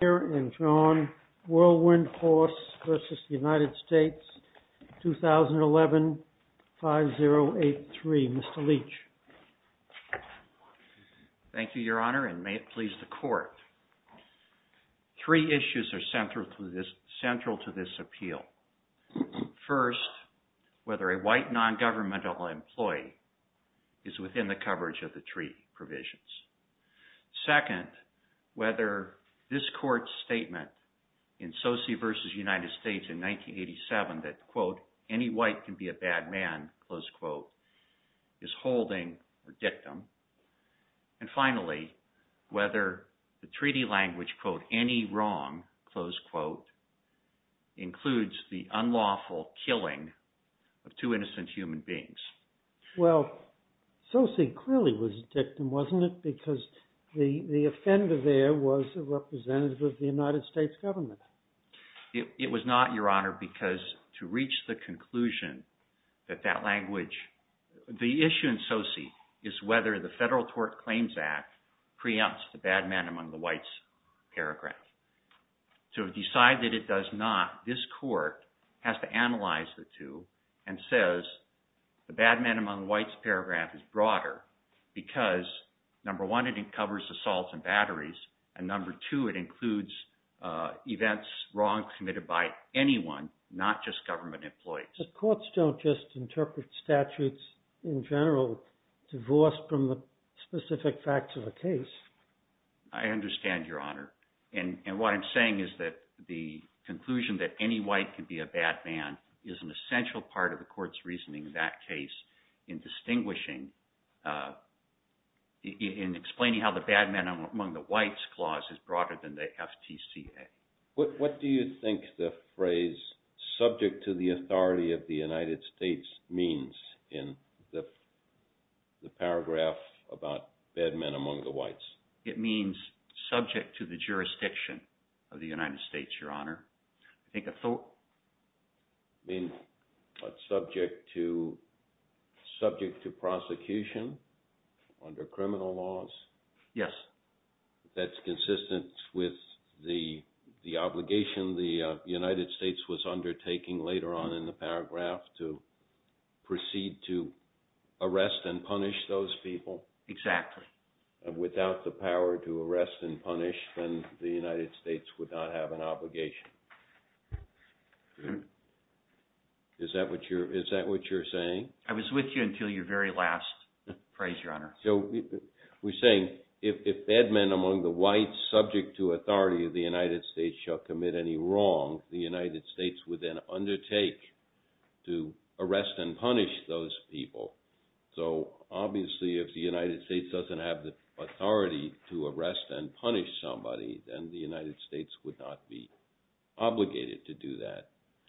2011 5083. Mr. Leach. Thank you, Your Honor, and may it please the Court. Three issues are central to this appeal. First, whether a white non-governmental employee is within the coverage of the treaty provisions. Second, whether this Court's statement in Sosi v. United States in 1987 that, quote, any white can be a bad man, close quote, is holding or dictum. And finally, whether the treaty language, quote, any wrong, close quote, includes the unlawful killing of two innocent human beings. Well, Sosi clearly was a dictum, wasn't it? Because the offender there was a representative of the United States government. It was not, Your Honor, because to reach the conclusion that that language, the issue in Sosi is whether the Federal Tort Claims Act preempts the bad man among the whites paragraph. To decide that it does not, this Court has to analyze the two and says the bad man among the whites paragraph is broader because, number one, it covers assaults and batteries, and number two, it includes events wrong committed by anyone, not just government employees. The courts don't just interpret statutes in general divorced from the specific facts of a case. I understand, Your Honor. And what I'm saying is that the conclusion that any white can be a bad man is an essential part of the Court's reasoning in that case in distinguishing, in explaining how the bad man among the whites clause is broader than the FTCA. What do you think the phrase subject to the authority of the United States means in the case? It means subject to the jurisdiction of the United States, Your Honor. I think I thought... It means subject to prosecution under criminal laws? Yes. That's consistent with the obligation the United States was undertaking later on in the paragraph to proceed to arrest and punish those people without the power to arrest and punish, then the United States would not have an obligation. Is that what you're saying? I was with you until your very last phrase, Your Honor. So we're saying if bad men among the whites subject to authority of the United States shall commit any wrong, the United States would then undertake to arrest and punish those people. So obviously if the United States doesn't have the authority to arrest and punish somebody, then the United States would not be obligated to do that.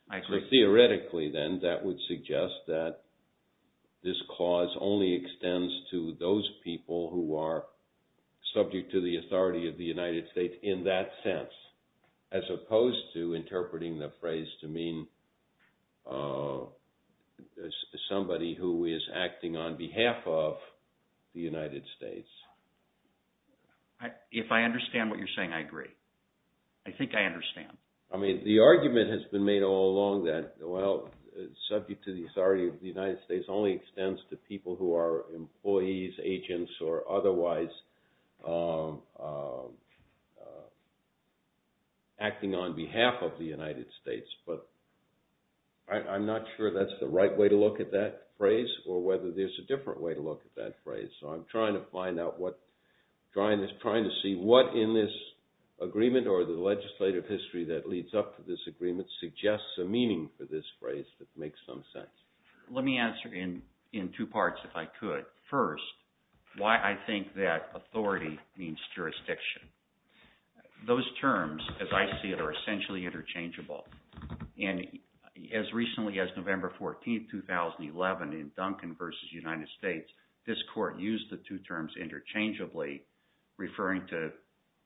I agree. Theoretically, then, that would suggest that this clause only extends to those people who are subject to the authority of the United States in that sense, as opposed to interpreting the phrase to mean somebody who is acting on behalf of the United States. If I understand what you're saying, I agree. I think I understand. I mean, the argument has been made all along that, well, subject to the authority of the United States only extends to people who are employees, agents, or otherwise acting on behalf of the United States. But I'm not sure that's the right way to look at that phrase or whether there's a different way to look at that phrase. So I'm trying to find out what, trying to see what in this agreement or the legislative history that leads up to this agreement suggests a meaning for this phrase that makes some sense. Let me answer in two parts if I could. First, why I think that authority means jurisdiction. Those terms, as I see it, are essentially interchangeable. And as recently as November 14, 2011, in Duncan v. United States, this court used the two terms interchangeably, referring to,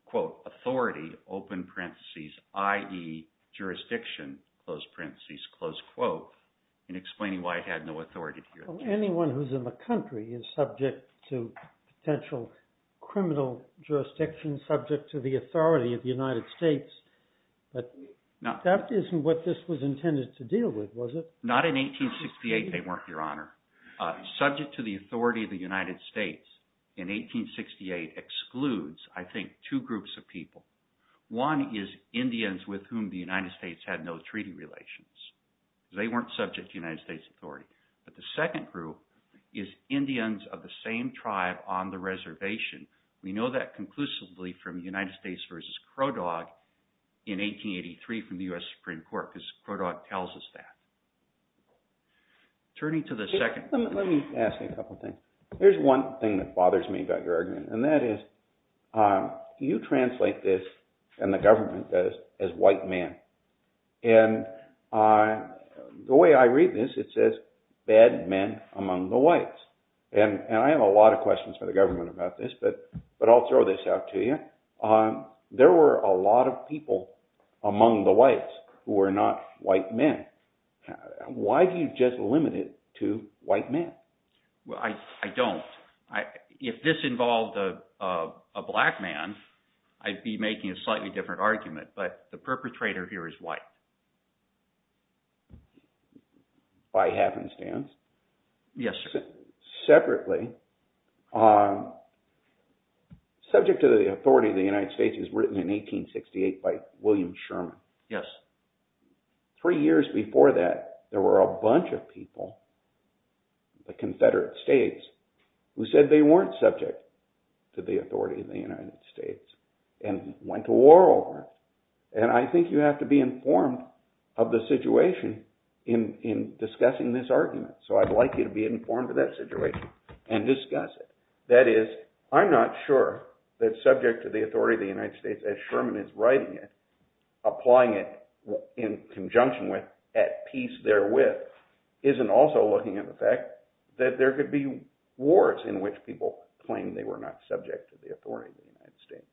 quote, authority, open parentheses, i.e., jurisdiction, close parentheses, close quote, and explaining why it had no authority here. Well, anyone who's in the country is subject to potential criminal jurisdiction, subject to the authority of the United States. But that isn't what this was intended to deal with, was it? Not in 1868, they weren't, Your Honor. Subject to the authority of the United States in 1868 excludes, I think, two groups of people. One is Indians with whom the United States had no treaty relations. They weren't subject to United States authority. But the second group is Indians of the same tribe on the reservation. We know that conclusively from United States v. Crow Dog in 1883 from the U.S. Supreme Court, because Crow Dog tells us that. Turning to the second group. Let me ask you a couple things. There's one thing that bothers me about your argument, and that is you translate this, and the government does, as white men. And the way I read this, it says bad men among the whites. And I have a lot of questions for the government about this, but I'll throw this out to you. There were a lot of people among the whites who were not white men. Why do you just limit it to white men? I don't. If this involved a black man, I'd be making a slightly different argument, but the perpetrator here is white. By happenstance? Yes, sir. Separately, subject to the authority of the United States as written in 1868 by William Three years before that, there were a bunch of people, the Confederate states, who said they weren't subject to the authority of the United States and went to war over it. And I think you have to be informed of the situation in discussing this argument. So I'd like you to be informed of that situation and discuss it. That is, I'm not sure that subject to the authority of the United States as Sherman is writing it, applying it in conjunction with, at peace therewith, isn't also looking at the fact that there could be wars in which people claim they were not subject to the authority of the United States.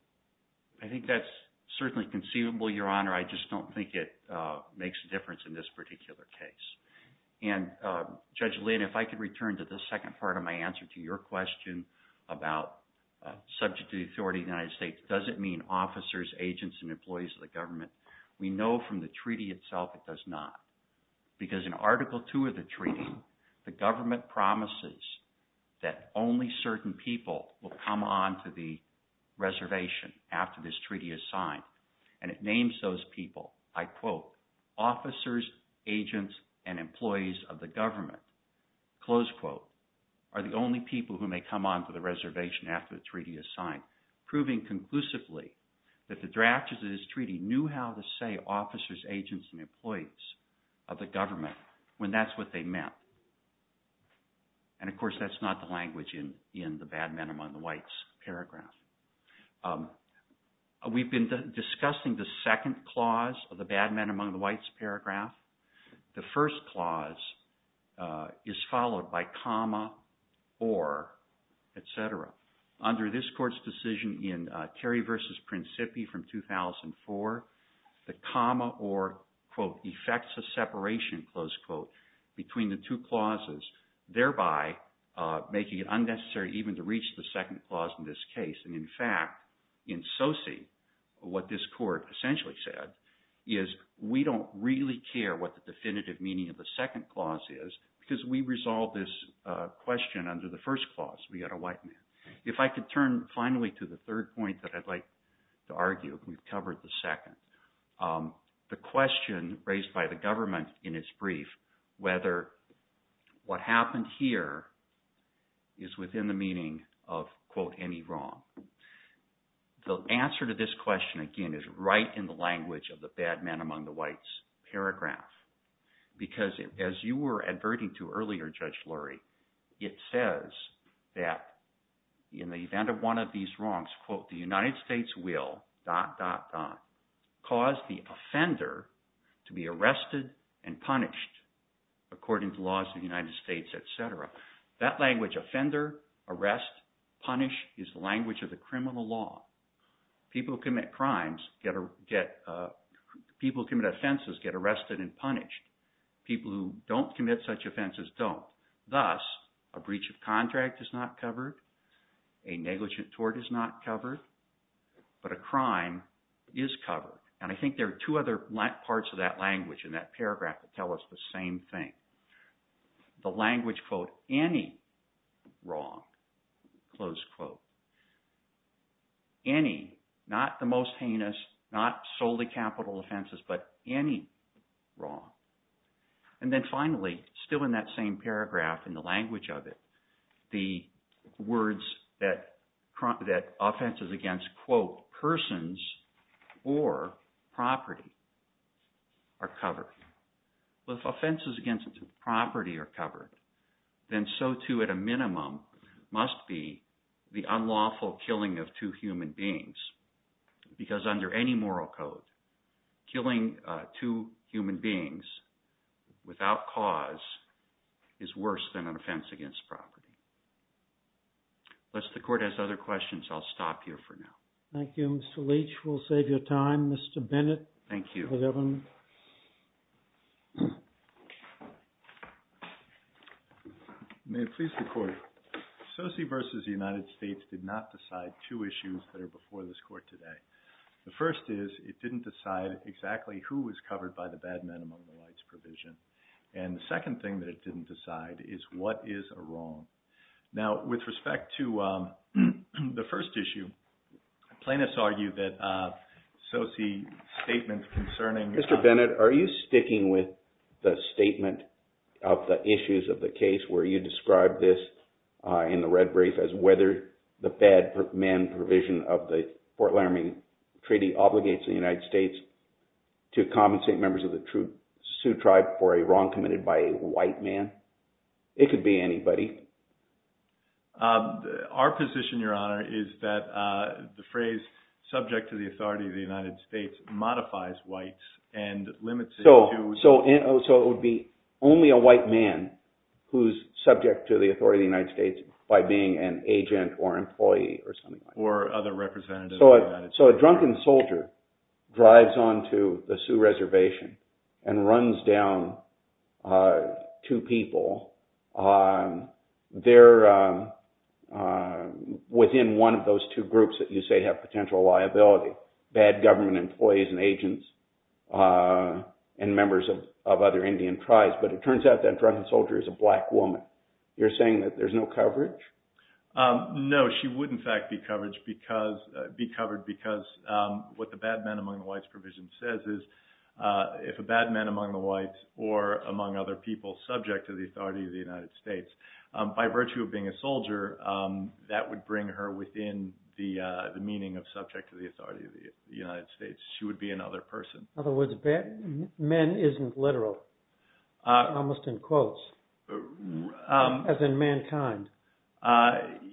I think that's certainly conceivable, Your Honor. I just don't think it makes a difference in this particular case. And Judge Lynn, if I could return to the second part of my answer to your question about subject to the authority of the United States, does it mean officers, agents, and employees of the government? We know from the treaty itself it does not. Because in Article II of the treaty, the government promises that only certain people will come on to the reservation after this treaty is signed. And it names those people, I quote, officers, agents, and employees of the government, close quote, are the only people who may come on to the reservation after the treaty is signed, proving conclusively that the drafters of this treaty knew how to say officers, agents, and employees of the government when that's what they meant. And of course that's not the language in the bad men among the whites paragraph. The first clause is followed by comma or, et cetera. Under this court's decision in Terry v. Principi from 2004, the comma or, quote, effects a separation, close quote, between the two clauses, thereby making it unnecessary even to reach the second clause in this case. And in fact, in Soci, what this court essentially said is we don't really care what the definitive meaning of the second clause is because we resolved this question under the first clause, we got a white man. If I could turn finally to the third point that I'd like to argue, we've covered the second. The question raised by the government in its brief whether what happened here is within the meaning of, quote, any wrong. The answer to this question, again, is right in the language of the bad men among the whites paragraph because as you were adverting to earlier, Judge Lurie, it says that in the event of one of these wrongs, quote, the United States will, dot, dot, dot, cause the offender to be arrested and punished according to laws of the United States, et cetera. That language, offender, arrest, punish, is the language of the criminal law. People who commit crimes get, people who commit offenses get arrested and punished. People who don't commit such offenses don't. Thus, a breach of contract is not covered, a negligent tort is not covered, but a crime is covered. And I think there are two other parts of that language in that paragraph that tell us the same thing. The language, quote, any wrong, close quote. Any, not the most heinous, not solely capital offenses, but any wrong. And then finally, still in that same paragraph, in the language of it, the words that offenses against, quote, persons or property are covered. Well, if offenses against property are covered, then so too at a minimum must be the unlawful killing of two human beings because under any moral code, killing two human beings without cause is worse than an offense against property. Unless the court has other questions, I'll stop here for now. Thank you, Mr. Leach. We'll save your time. Mr. Bennett. Thank you. The governor. May it please the court, Sosi versus the United States did not decide two issues that are important. One, it didn't decide exactly who was covered by the bad men among the whites provision. And the second thing that it didn't decide is what is a wrong. Now, with respect to the first issue, plaintiffs argue that Sosi's statement concerning... Mr. Bennett, are you sticking with the statement of the issues of the case where you described this in the red brief as whether the bad men provision of the Fort Laramie Treaty obligates the United States to compensate members of the Sioux tribe for a wrong committed by a white man? It could be anybody. Our position, Your Honor, is that the phrase subject to the authority of the United States modifies whites and limits it to... So it would be only a white man who's subject to the authority of the United States by being an agent or employee or something like that. Or other representative of the United States. So a drunken soldier drives on to the Sioux reservation and runs down two people. They're within one of those two groups that you say have potential liability. Bad government employees and agents and members of other Indian tribes. But it turns out that drunken soldier is a black woman. You're saying that there's no coverage? No, she would, in fact, be covered because what the bad men among whites provision says is if a bad man among the whites or among other people subject to the authority of the United States, by virtue of being a soldier, that would bring her within the meaning of subject to the authority of the United States. She would be another person. In other words, bad men isn't literal. Almost in quotes. As in mankind.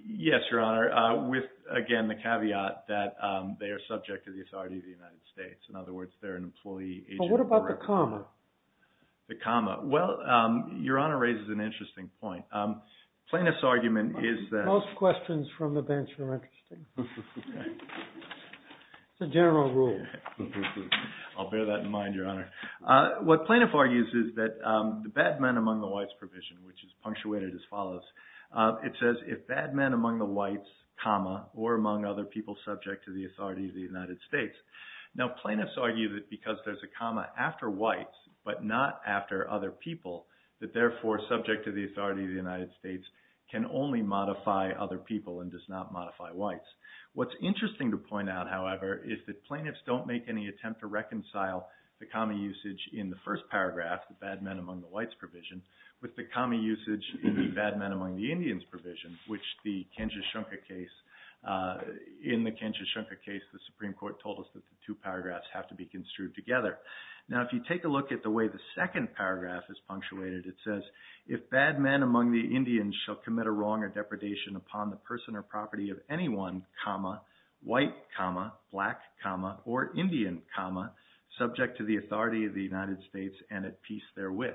Yes, Your Honor. With, again, the caveat that they are subject to the authority of the United States. In other words, they're an employee... But what about the comma? The comma. Well, Your Honor raises an interesting point. Plaintiff's argument is that... Most questions from the bench are interesting. It's a general rule. I'll bear that in mind, Your Honor. What plaintiff argues is that the bad men among the whites provision, which is punctuated as follows. It says, if bad men among the whites, comma, or among other people subject to the authority of the United States. Now, plaintiffs argue that because there's a comma after whites, but not after other people, that therefore subject to the authority of the United States can only modify other people and does not modify whites. What's interesting to point out, however, is that plaintiffs don't make any attempt to reconcile the comma usage in the first paragraph, the bad men among the whites provision, with the comma usage in the bad men among the Indians provision, which the Kinshashunka case... In the Kinshashunka case, the Supreme Court told us that the two paragraphs have to be construed together. Now, if you take a look at the way the second paragraph is punctuated, it says, if bad men among the Indians shall commit a wrong or depredation upon the person or property of anyone, comma, white, comma, black, comma, or Indian, comma, subject to the authority of the United States and at peace therewith.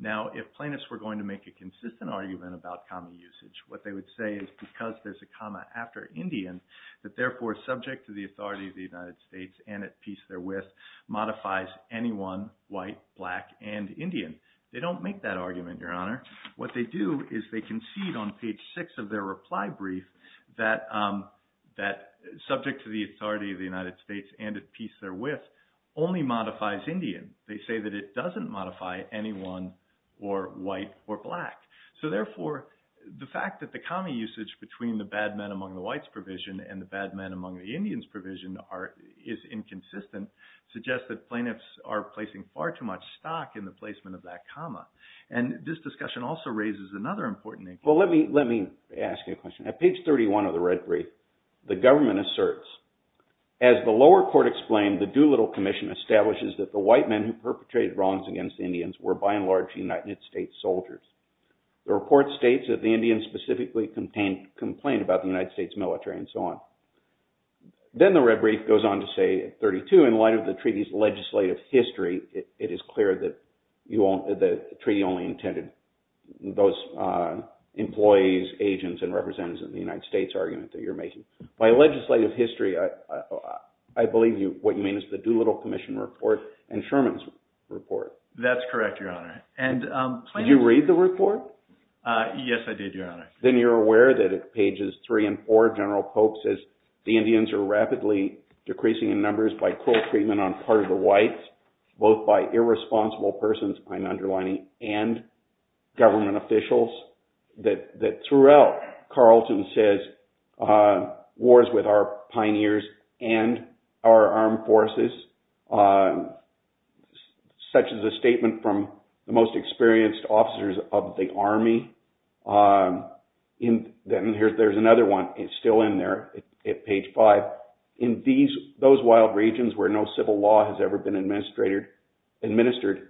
Now, if plaintiffs were going to make a consistent argument about comma usage, what they would say is because there's a comma after Indian, that therefore subject to the authority of the United States and at peace therewith modifies anyone, white, black, and Indian. They don't make that argument, Your Honor. What they do is they concede on page six of their reply brief that subject to the authority of the United States and at peace therewith only modifies Indian. They say that it doesn't modify anyone or white or black. So, therefore, the fact that the comma usage between the bad men among the whites provision and the bad men among the Indians provision is inconsistent, suggests that plaintiffs are placing far too much stock in the placement of that comma. And this discussion also raises another important issue. Well, let me ask you a question. At page 31 of the red brief, the government asserts, as the lower court explained, the Doolittle Commission establishes that the white men who perpetrated wrongs against Indians were by and large United States soldiers. The report states that the Indians specifically complained about the United States military and so on. Then the red brief goes on to say at 32, in light of the treaty's legislative history, it is clear that the treaty only intended those employees, agents, and representatives of the United States argument that you're making. By legislative history, I believe what you mean is the Doolittle Commission report and Sherman's report. That's correct, Your Honor. Did you read the report? Yes, I did, Your Honor. Then you're aware that at pages three and four, General Pope says the Indians are rapidly decreasing in numbers by cruel treatment on part of the whites, both by irresponsible persons, I'm underlining, and government officials. That throughout, Carlton says wars with our pioneers and our armed forces, such as a statement from the most experienced officers of the army. Then there's another one. It's still in there at page five. In those wild regions where no civil law has ever been administered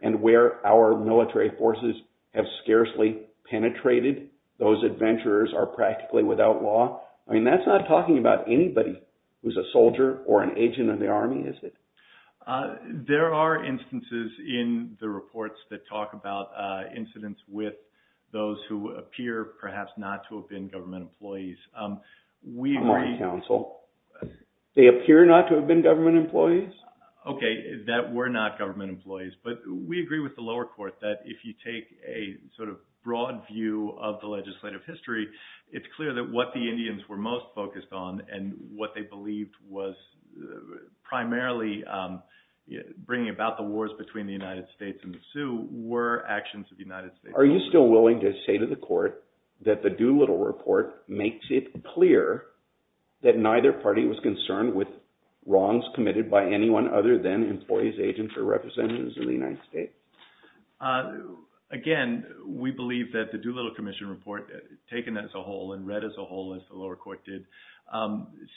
and where our military forces have scarcely penetrated, those adventurers are practically without law. That's not talking about anybody who's a soldier or an agent of the army, is it? There are instances in the reports that talk about incidents with those who appear perhaps not to have been government employees. I'm on council. They appear not to have been government employees? Okay, that were not government employees. But we agree with the lower court that if you take a sort of broad view of the legislative history, it's clear that what the Indians were most focused on and what they believed was primarily bringing about the wars between the United States and the Sioux were actions of the United States. Are you still willing to say to the court that the Doolittle report makes it clear that neither party was concerned with wrongs committed by anyone other than employees, agents, or representatives of the United States? Again, we believe that the Doolittle commission report, taken as a whole and read as a whole as the lower court did,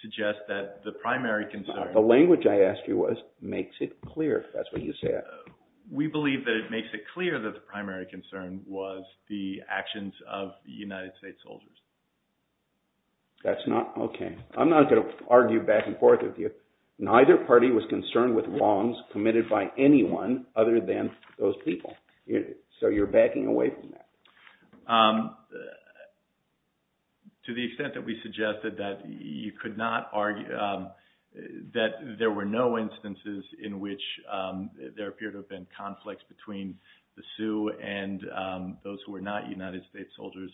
suggests that the primary concern… The language I asked you was, makes it clear, if that's what you said. We believe that it makes it clear that the primary concern was the actions of the United States soldiers. That's not… Okay. I'm not going to argue back and forth with you. Neither party was concerned with wrongs committed by anyone other than those people. So you're backing away from that? To the extent that we suggested that you could not argue… That there were no instances in which there appeared to have been conflicts between the Sioux and those who were not United States soldiers.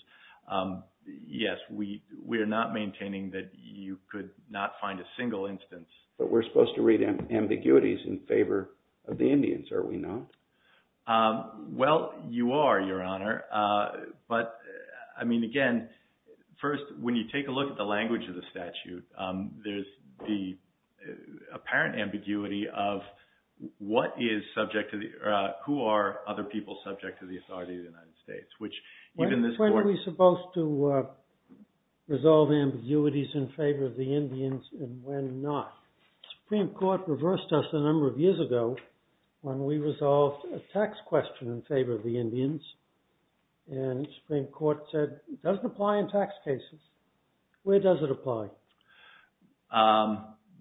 Yes, we are not maintaining that you could not find a single instance. But we're supposed to read ambiguities in favor of the Indians, are we not? Well, you are, Your Honor. But, I mean, again, first, when you take a look at the language of the statute, there's the apparent ambiguity of what is subject to the… Who are other people subject to the authority of the United States? When are we supposed to resolve ambiguities in favor of the Indians and when not? The Supreme Court reversed us a number of years ago when we resolved a tax question in favor of the Indians. And the Supreme Court said it doesn't apply in tax cases. Where does it apply?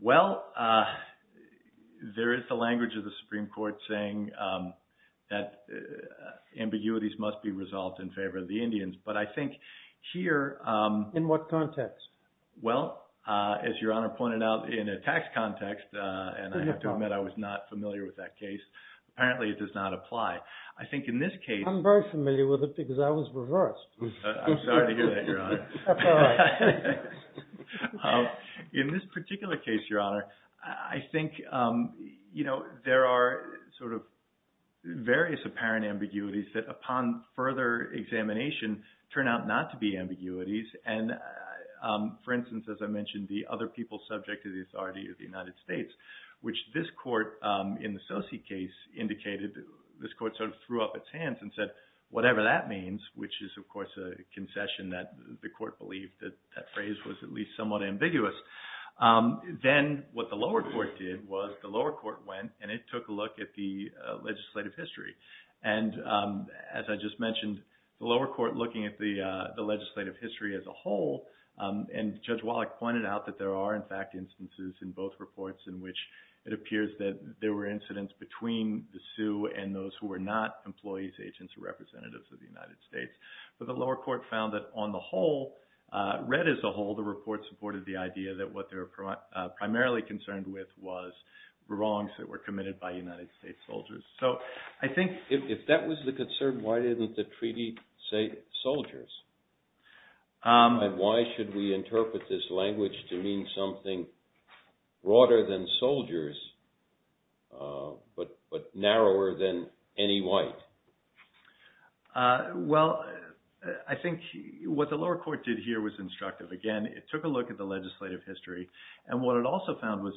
Well, there is the language of the Supreme Court saying that ambiguities must be resolved in favor of the Indians. But I think here… In what context? Well, as Your Honor pointed out, in a tax context, and I have to admit I was not familiar with that case, apparently it does not apply. I'm very familiar with it because I was reversed. I'm sorry to hear that, Your Honor. In this particular case, Your Honor, I think there are sort of various apparent ambiguities that upon further examination turn out not to be ambiguities. And, for instance, as I mentioned, the other people subject to the authority of the United States, which this court in the Sose case indicated… This court sort of threw up its hands and said, whatever that means, which is, of course, a concession that the court believed that that phrase was at least somewhat ambiguous. Then what the lower court did was the lower court went and it took a look at the legislative history. And, as I just mentioned, the lower court looking at the legislative history as a whole, and Judge Wallach pointed out that there are, in fact, instances in both reports in which it appears that there were incidents between the Sioux and those who were not employees, agents, or representatives of the United States. But the lower court found that on the whole, read as a whole, the report supported the idea that what they were primarily concerned with was wrongs that were committed by United States soldiers. So I think if that was the concern, why didn't the treaty say soldiers? And why should we interpret this language to mean something broader than soldiers, but narrower than any white? Well, I think what the lower court did here was instructive. Again, it took a look at the legislative history. And what it also found was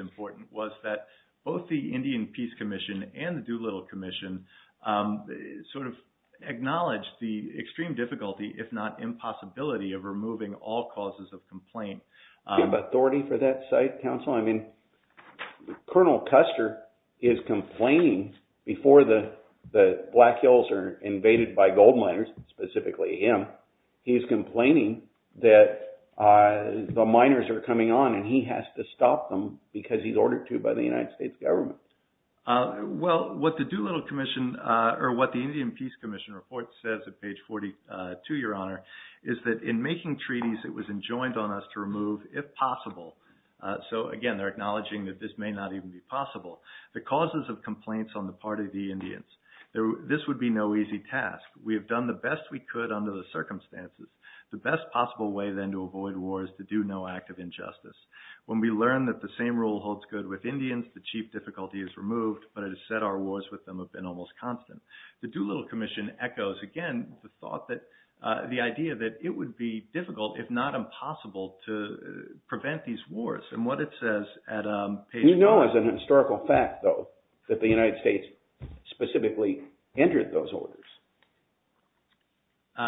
important was that both the Indian Peace Commission and the Doolittle Commission sort of acknowledged the extreme difficulty, if not impossibility, of removing all causes of complaint. Do you have authority for that site, counsel? I mean, Colonel Custer is complaining before the Black Hills are invaded by gold miners, specifically him, he's complaining that the miners are coming on and he has to stop them because he's ordered to by the United States government. Well, what the Doolittle Commission, or what the Indian Peace Commission report says at page 42, Your Honor, is that in making treaties, it was enjoined on us to remove, if possible. So again, they're acknowledging that this may not even be possible. The causes of complaints on the part of the Indians, this would be no easy task. We have done the best we could under the circumstances. The best possible way then to avoid war is to do no act of injustice. When we learn that the same rule holds good with Indians, the chief difficulty is removed, but it is said our wars with them have been almost constant. The Doolittle Commission echoes, again, the idea that it would be difficult, if not impossible, to prevent these wars. And what it says at page 42. You know as a historical fact, though, that the United States specifically entered those orders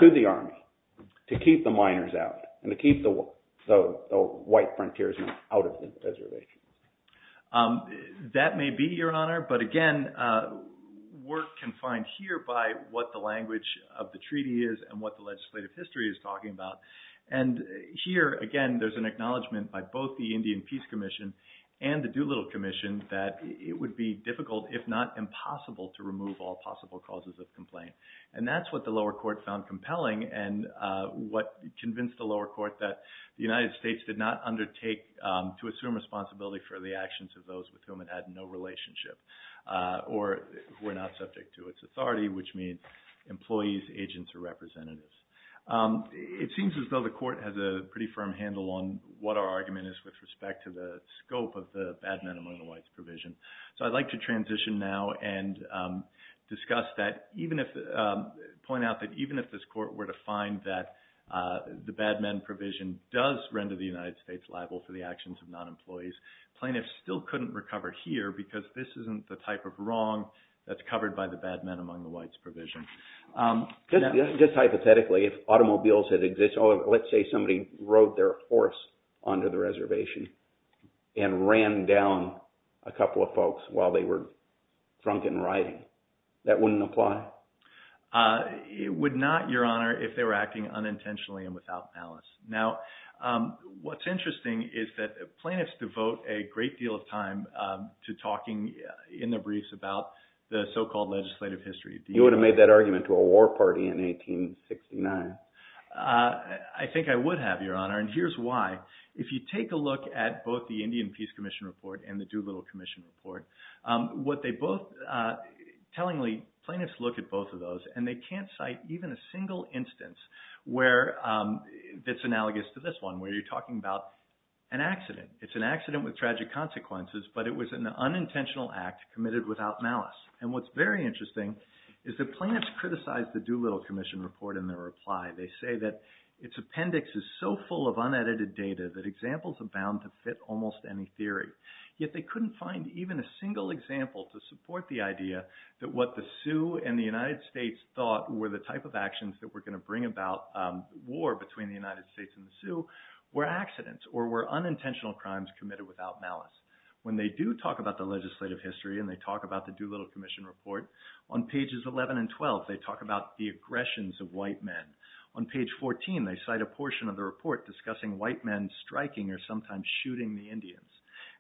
to the Army to keep the miners out and to keep the white frontiersmen out of the reservation. That may be, Your Honor. But again, we're confined here by what the language of the treaty is and what the legislative history is talking about. And here, again, there's an acknowledgement by both the Indian Peace Commission and the Doolittle Commission that it would be difficult, if not impossible, to remove all possible causes of complaint. And that's what the lower court found compelling and what convinced the lower court that the United States did not undertake to assume responsibility for the actions of those with whom it had no relationship or were not subject to its authority, which means employees, agents, or representatives. It seems as though the court has a pretty firm handle on what our argument is with respect to the scope of the Bad Men and Women of White's provision. So I'd like to transition now and discuss that, point out that even if this court were to find that the Bad Men provision does render the United States liable for the actions of non-employees, plaintiffs still couldn't recover here because this isn't the type of wrong that's covered by the Bad Men among the Whites provision. Just hypothetically, if automobiles had existed, let's say somebody rode their horse onto the reservation and ran down a couple of folks while they were drunken riding, that wouldn't apply? It would not, Your Honor, if they were acting unintentionally and without malice. Now, what's interesting is that plaintiffs devote a great deal of time to talking in their briefs about the so-called legislative history. You would have made that argument to a war party in 1869. I think I would have, Your Honor, and here's why. If you take a look at both the Indian Peace Commission report and the Doolittle Commission report, what they both, tellingly, plaintiffs look at both of those and they can't cite even a single instance that's analogous to this one where you're talking about an accident. It's an accident with tragic consequences, but it was an unintentional act committed without malice. And what's very interesting is that plaintiffs criticized the Doolittle Commission report in their reply. They say that its appendix is so full of unedited data that examples are bound to fit almost any theory. Yet they couldn't find even a single example to support the idea that what the Sioux and the United States thought were the type of actions that were going to bring about war between the United States and the Sioux were accidents or were unintentional crimes committed without malice. When they do talk about the legislative history and they talk about the Doolittle Commission report, on pages 11 and 12 they talk about the aggressions of white men. On page 14 they cite a portion of the report discussing white men striking or sometimes shooting the Indians.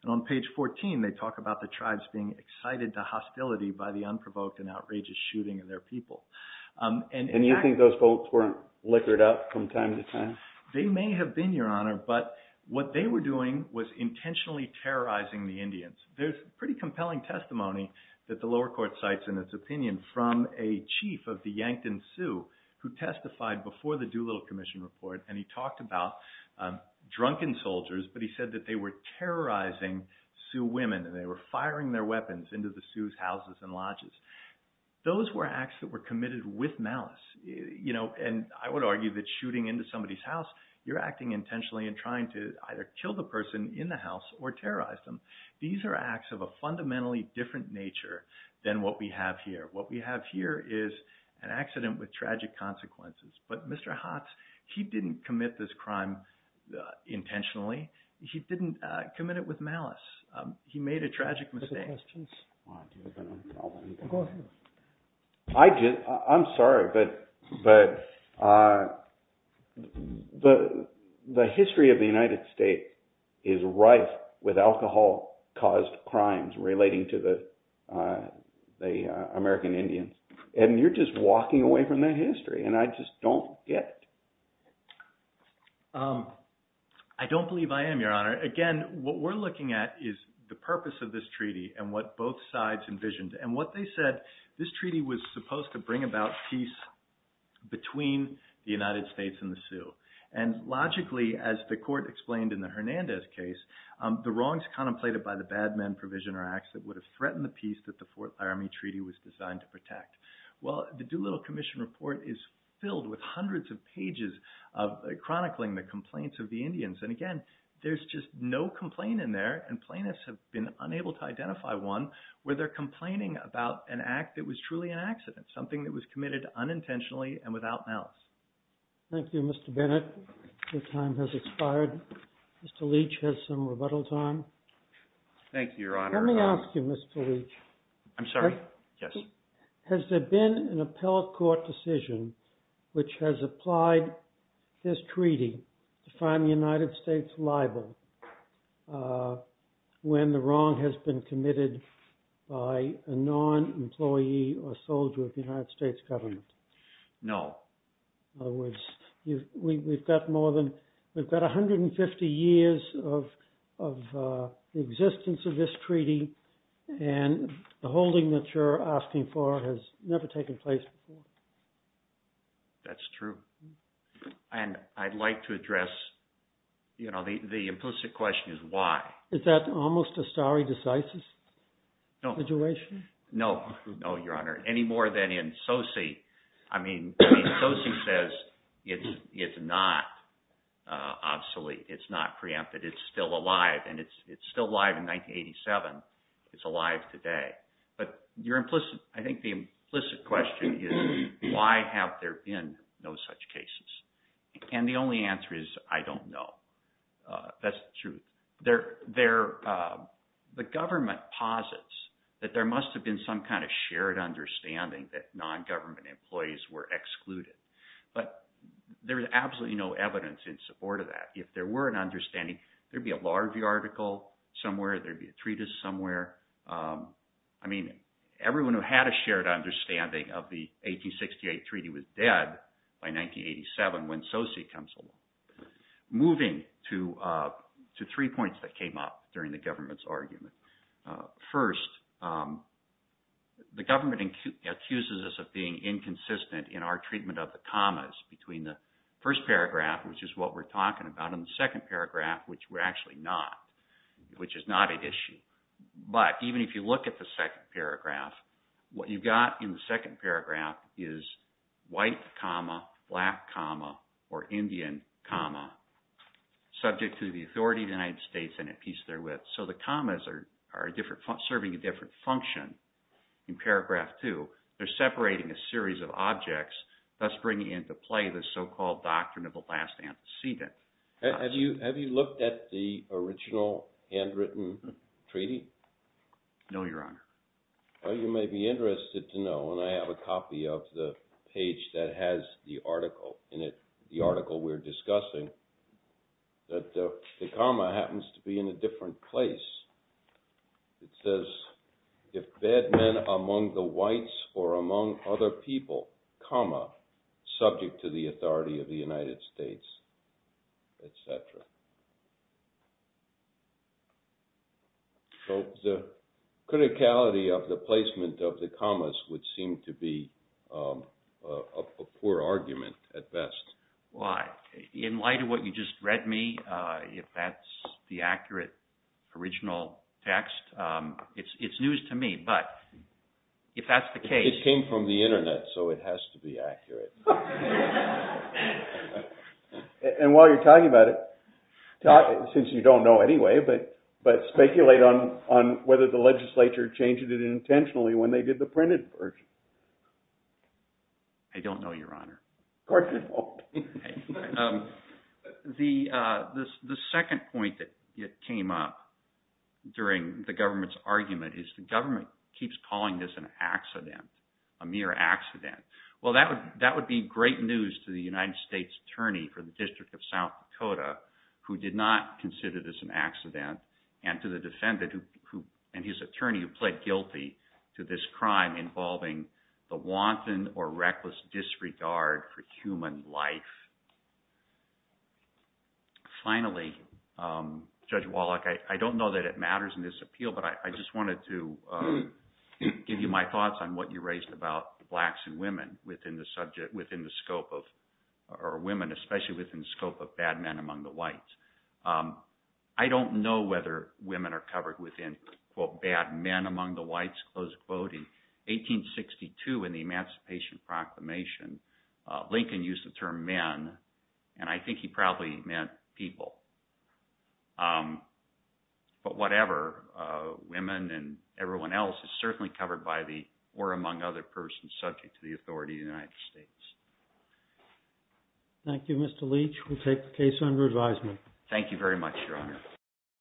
And on page 14 they talk about the tribes being excited to hostility by the unprovoked and outrageous shooting of their people. And you think those folks weren't liquored up from time to time? They may have been, Your Honor, but what they were doing was intentionally terrorizing the Indians. There's pretty compelling testimony that the lower court cites in its opinion from a chief of the Yankton Sioux who testified before the Doolittle Commission report and he talked about drunken soldiers, but he said that they were terrorizing Sioux women and they were firing their weapons into the Sioux' houses and lodges. Those were acts that were committed with malice. And I would argue that shooting into somebody's house, you're acting intentionally and trying to either kill the person in the house or terrorize them. These are acts of a fundamentally different nature than what we have here. What we have here is an accident with tragic consequences. But Mr. Hotz, he didn't commit this crime intentionally. He didn't commit it with malice. He made a tragic mistake. I'm sorry, but the history of the United States is rife with alcohol-caused crimes relating to the American Indians. And you're just walking away from that history and I just don't get it. I don't believe I am, Your Honor. Again, what we're looking at is the purpose of this treaty and what both sides envisioned. And what they said, this treaty was supposed to bring about peace between the United States and the Sioux. And logically, as the court explained in the Hernandez case, the wrongs contemplated by the bad men provision or acts that would have threatened the peace that the Fourth Army Treaty was designed to protect. Well, the Doolittle Commission Report is filled with hundreds of pages chronicling the complaints of the Indians. And again, there's just no complaint in there and plaintiffs have been unable to identify one where they're complaining about an act that was truly an accident, something that was committed unintentionally and without malice. Thank you, Mr. Bennett. Your time has expired. Mr. Leach has some rebuttal time. Thank you, Your Honor. Let me ask you, Mr. Leach. I'm sorry? Yes. Has there been an appellate court decision which has applied this treaty to find the United States liable when the wrong has been committed by a non-employee or soldier of the United States government? No. In other words, we've got more than, we've got 150 years of the existence of this treaty and the holding that you're asking for has never taken place before. That's true. And I'd like to address, you know, the implicit question is why. Is that almost a stare decisis situation? No. No, Your Honor. Any more than in Soce. I mean, Soce says it's not obsolete, it's not preempted, it's still alive. And it's still alive in 1987. It's alive today. But your implicit, I think the implicit question is why have there been no such cases? And the only answer is I don't know. That's the truth. The government posits that there must have been some kind of shared understanding that non-government employees were excluded. But there is absolutely no evidence in support of that. If there were an understanding, there would be a larvae article somewhere, there would be a treatise somewhere. I mean, everyone who had a shared understanding of the 1868 treaty was dead by 1987 when Soce comes along. Moving to three points that came up during the government's argument. First, the government accuses us of being inconsistent in our treatment of the commas between the first paragraph, which is what we're talking about, and the second paragraph, which we're actually not, which is not an issue. But even if you look at the second paragraph, what you've got in the second paragraph is white comma, black comma, or Indian comma, subject to the authority of the United States and at peace therewith. So the commas are serving a different function in paragraph two. They're separating a series of objects, thus bringing into play the so-called doctrine of the last antecedent. Have you looked at the original handwritten treaty? No, Your Honor. Well, you may be interested to know, and I have a copy of the page that has the article in it, the article we're discussing, that the comma happens to be in a different place. It says, if bad men among the whites or among other people, comma, subject to the authority of the United States, et cetera. So the criticality of the placement of the commas would seem to be a poor argument at best. In light of what you just read me, if that's the accurate original text, it's news to me, but if that's the case. It came from the Internet, so it has to be accurate. And while you're talking about it, since you don't know anyway, but speculate on whether the legislature changed it intentionally when they did the printed version. I don't know, Your Honor. Of course you don't. The second point that came up during the government's argument is the government keeps calling this an accident, a mere accident. Well, that would be great news to the United States Attorney for the District of South Dakota, who did not consider this an accident, and to the defendant and his attorney who pled guilty to this crime involving the wanton or reckless disregard for human life. Finally, Judge Wallach, I don't know that it matters in this appeal, but I just wanted to give you my thoughts on what you raised about blacks and women within the scope of, or women especially within the scope of bad men among the whites. I don't know whether women are covered within, quote, bad men among the whites, close quoting. 1862 in the Emancipation Proclamation, Lincoln used the term men, and I think he probably meant people. But whatever, women and everyone else is certainly covered by the, or among other persons subject to the authority of the United States. Thank you, Mr. Leach. We'll take the case under advisement. Thank you very much, Your Honor.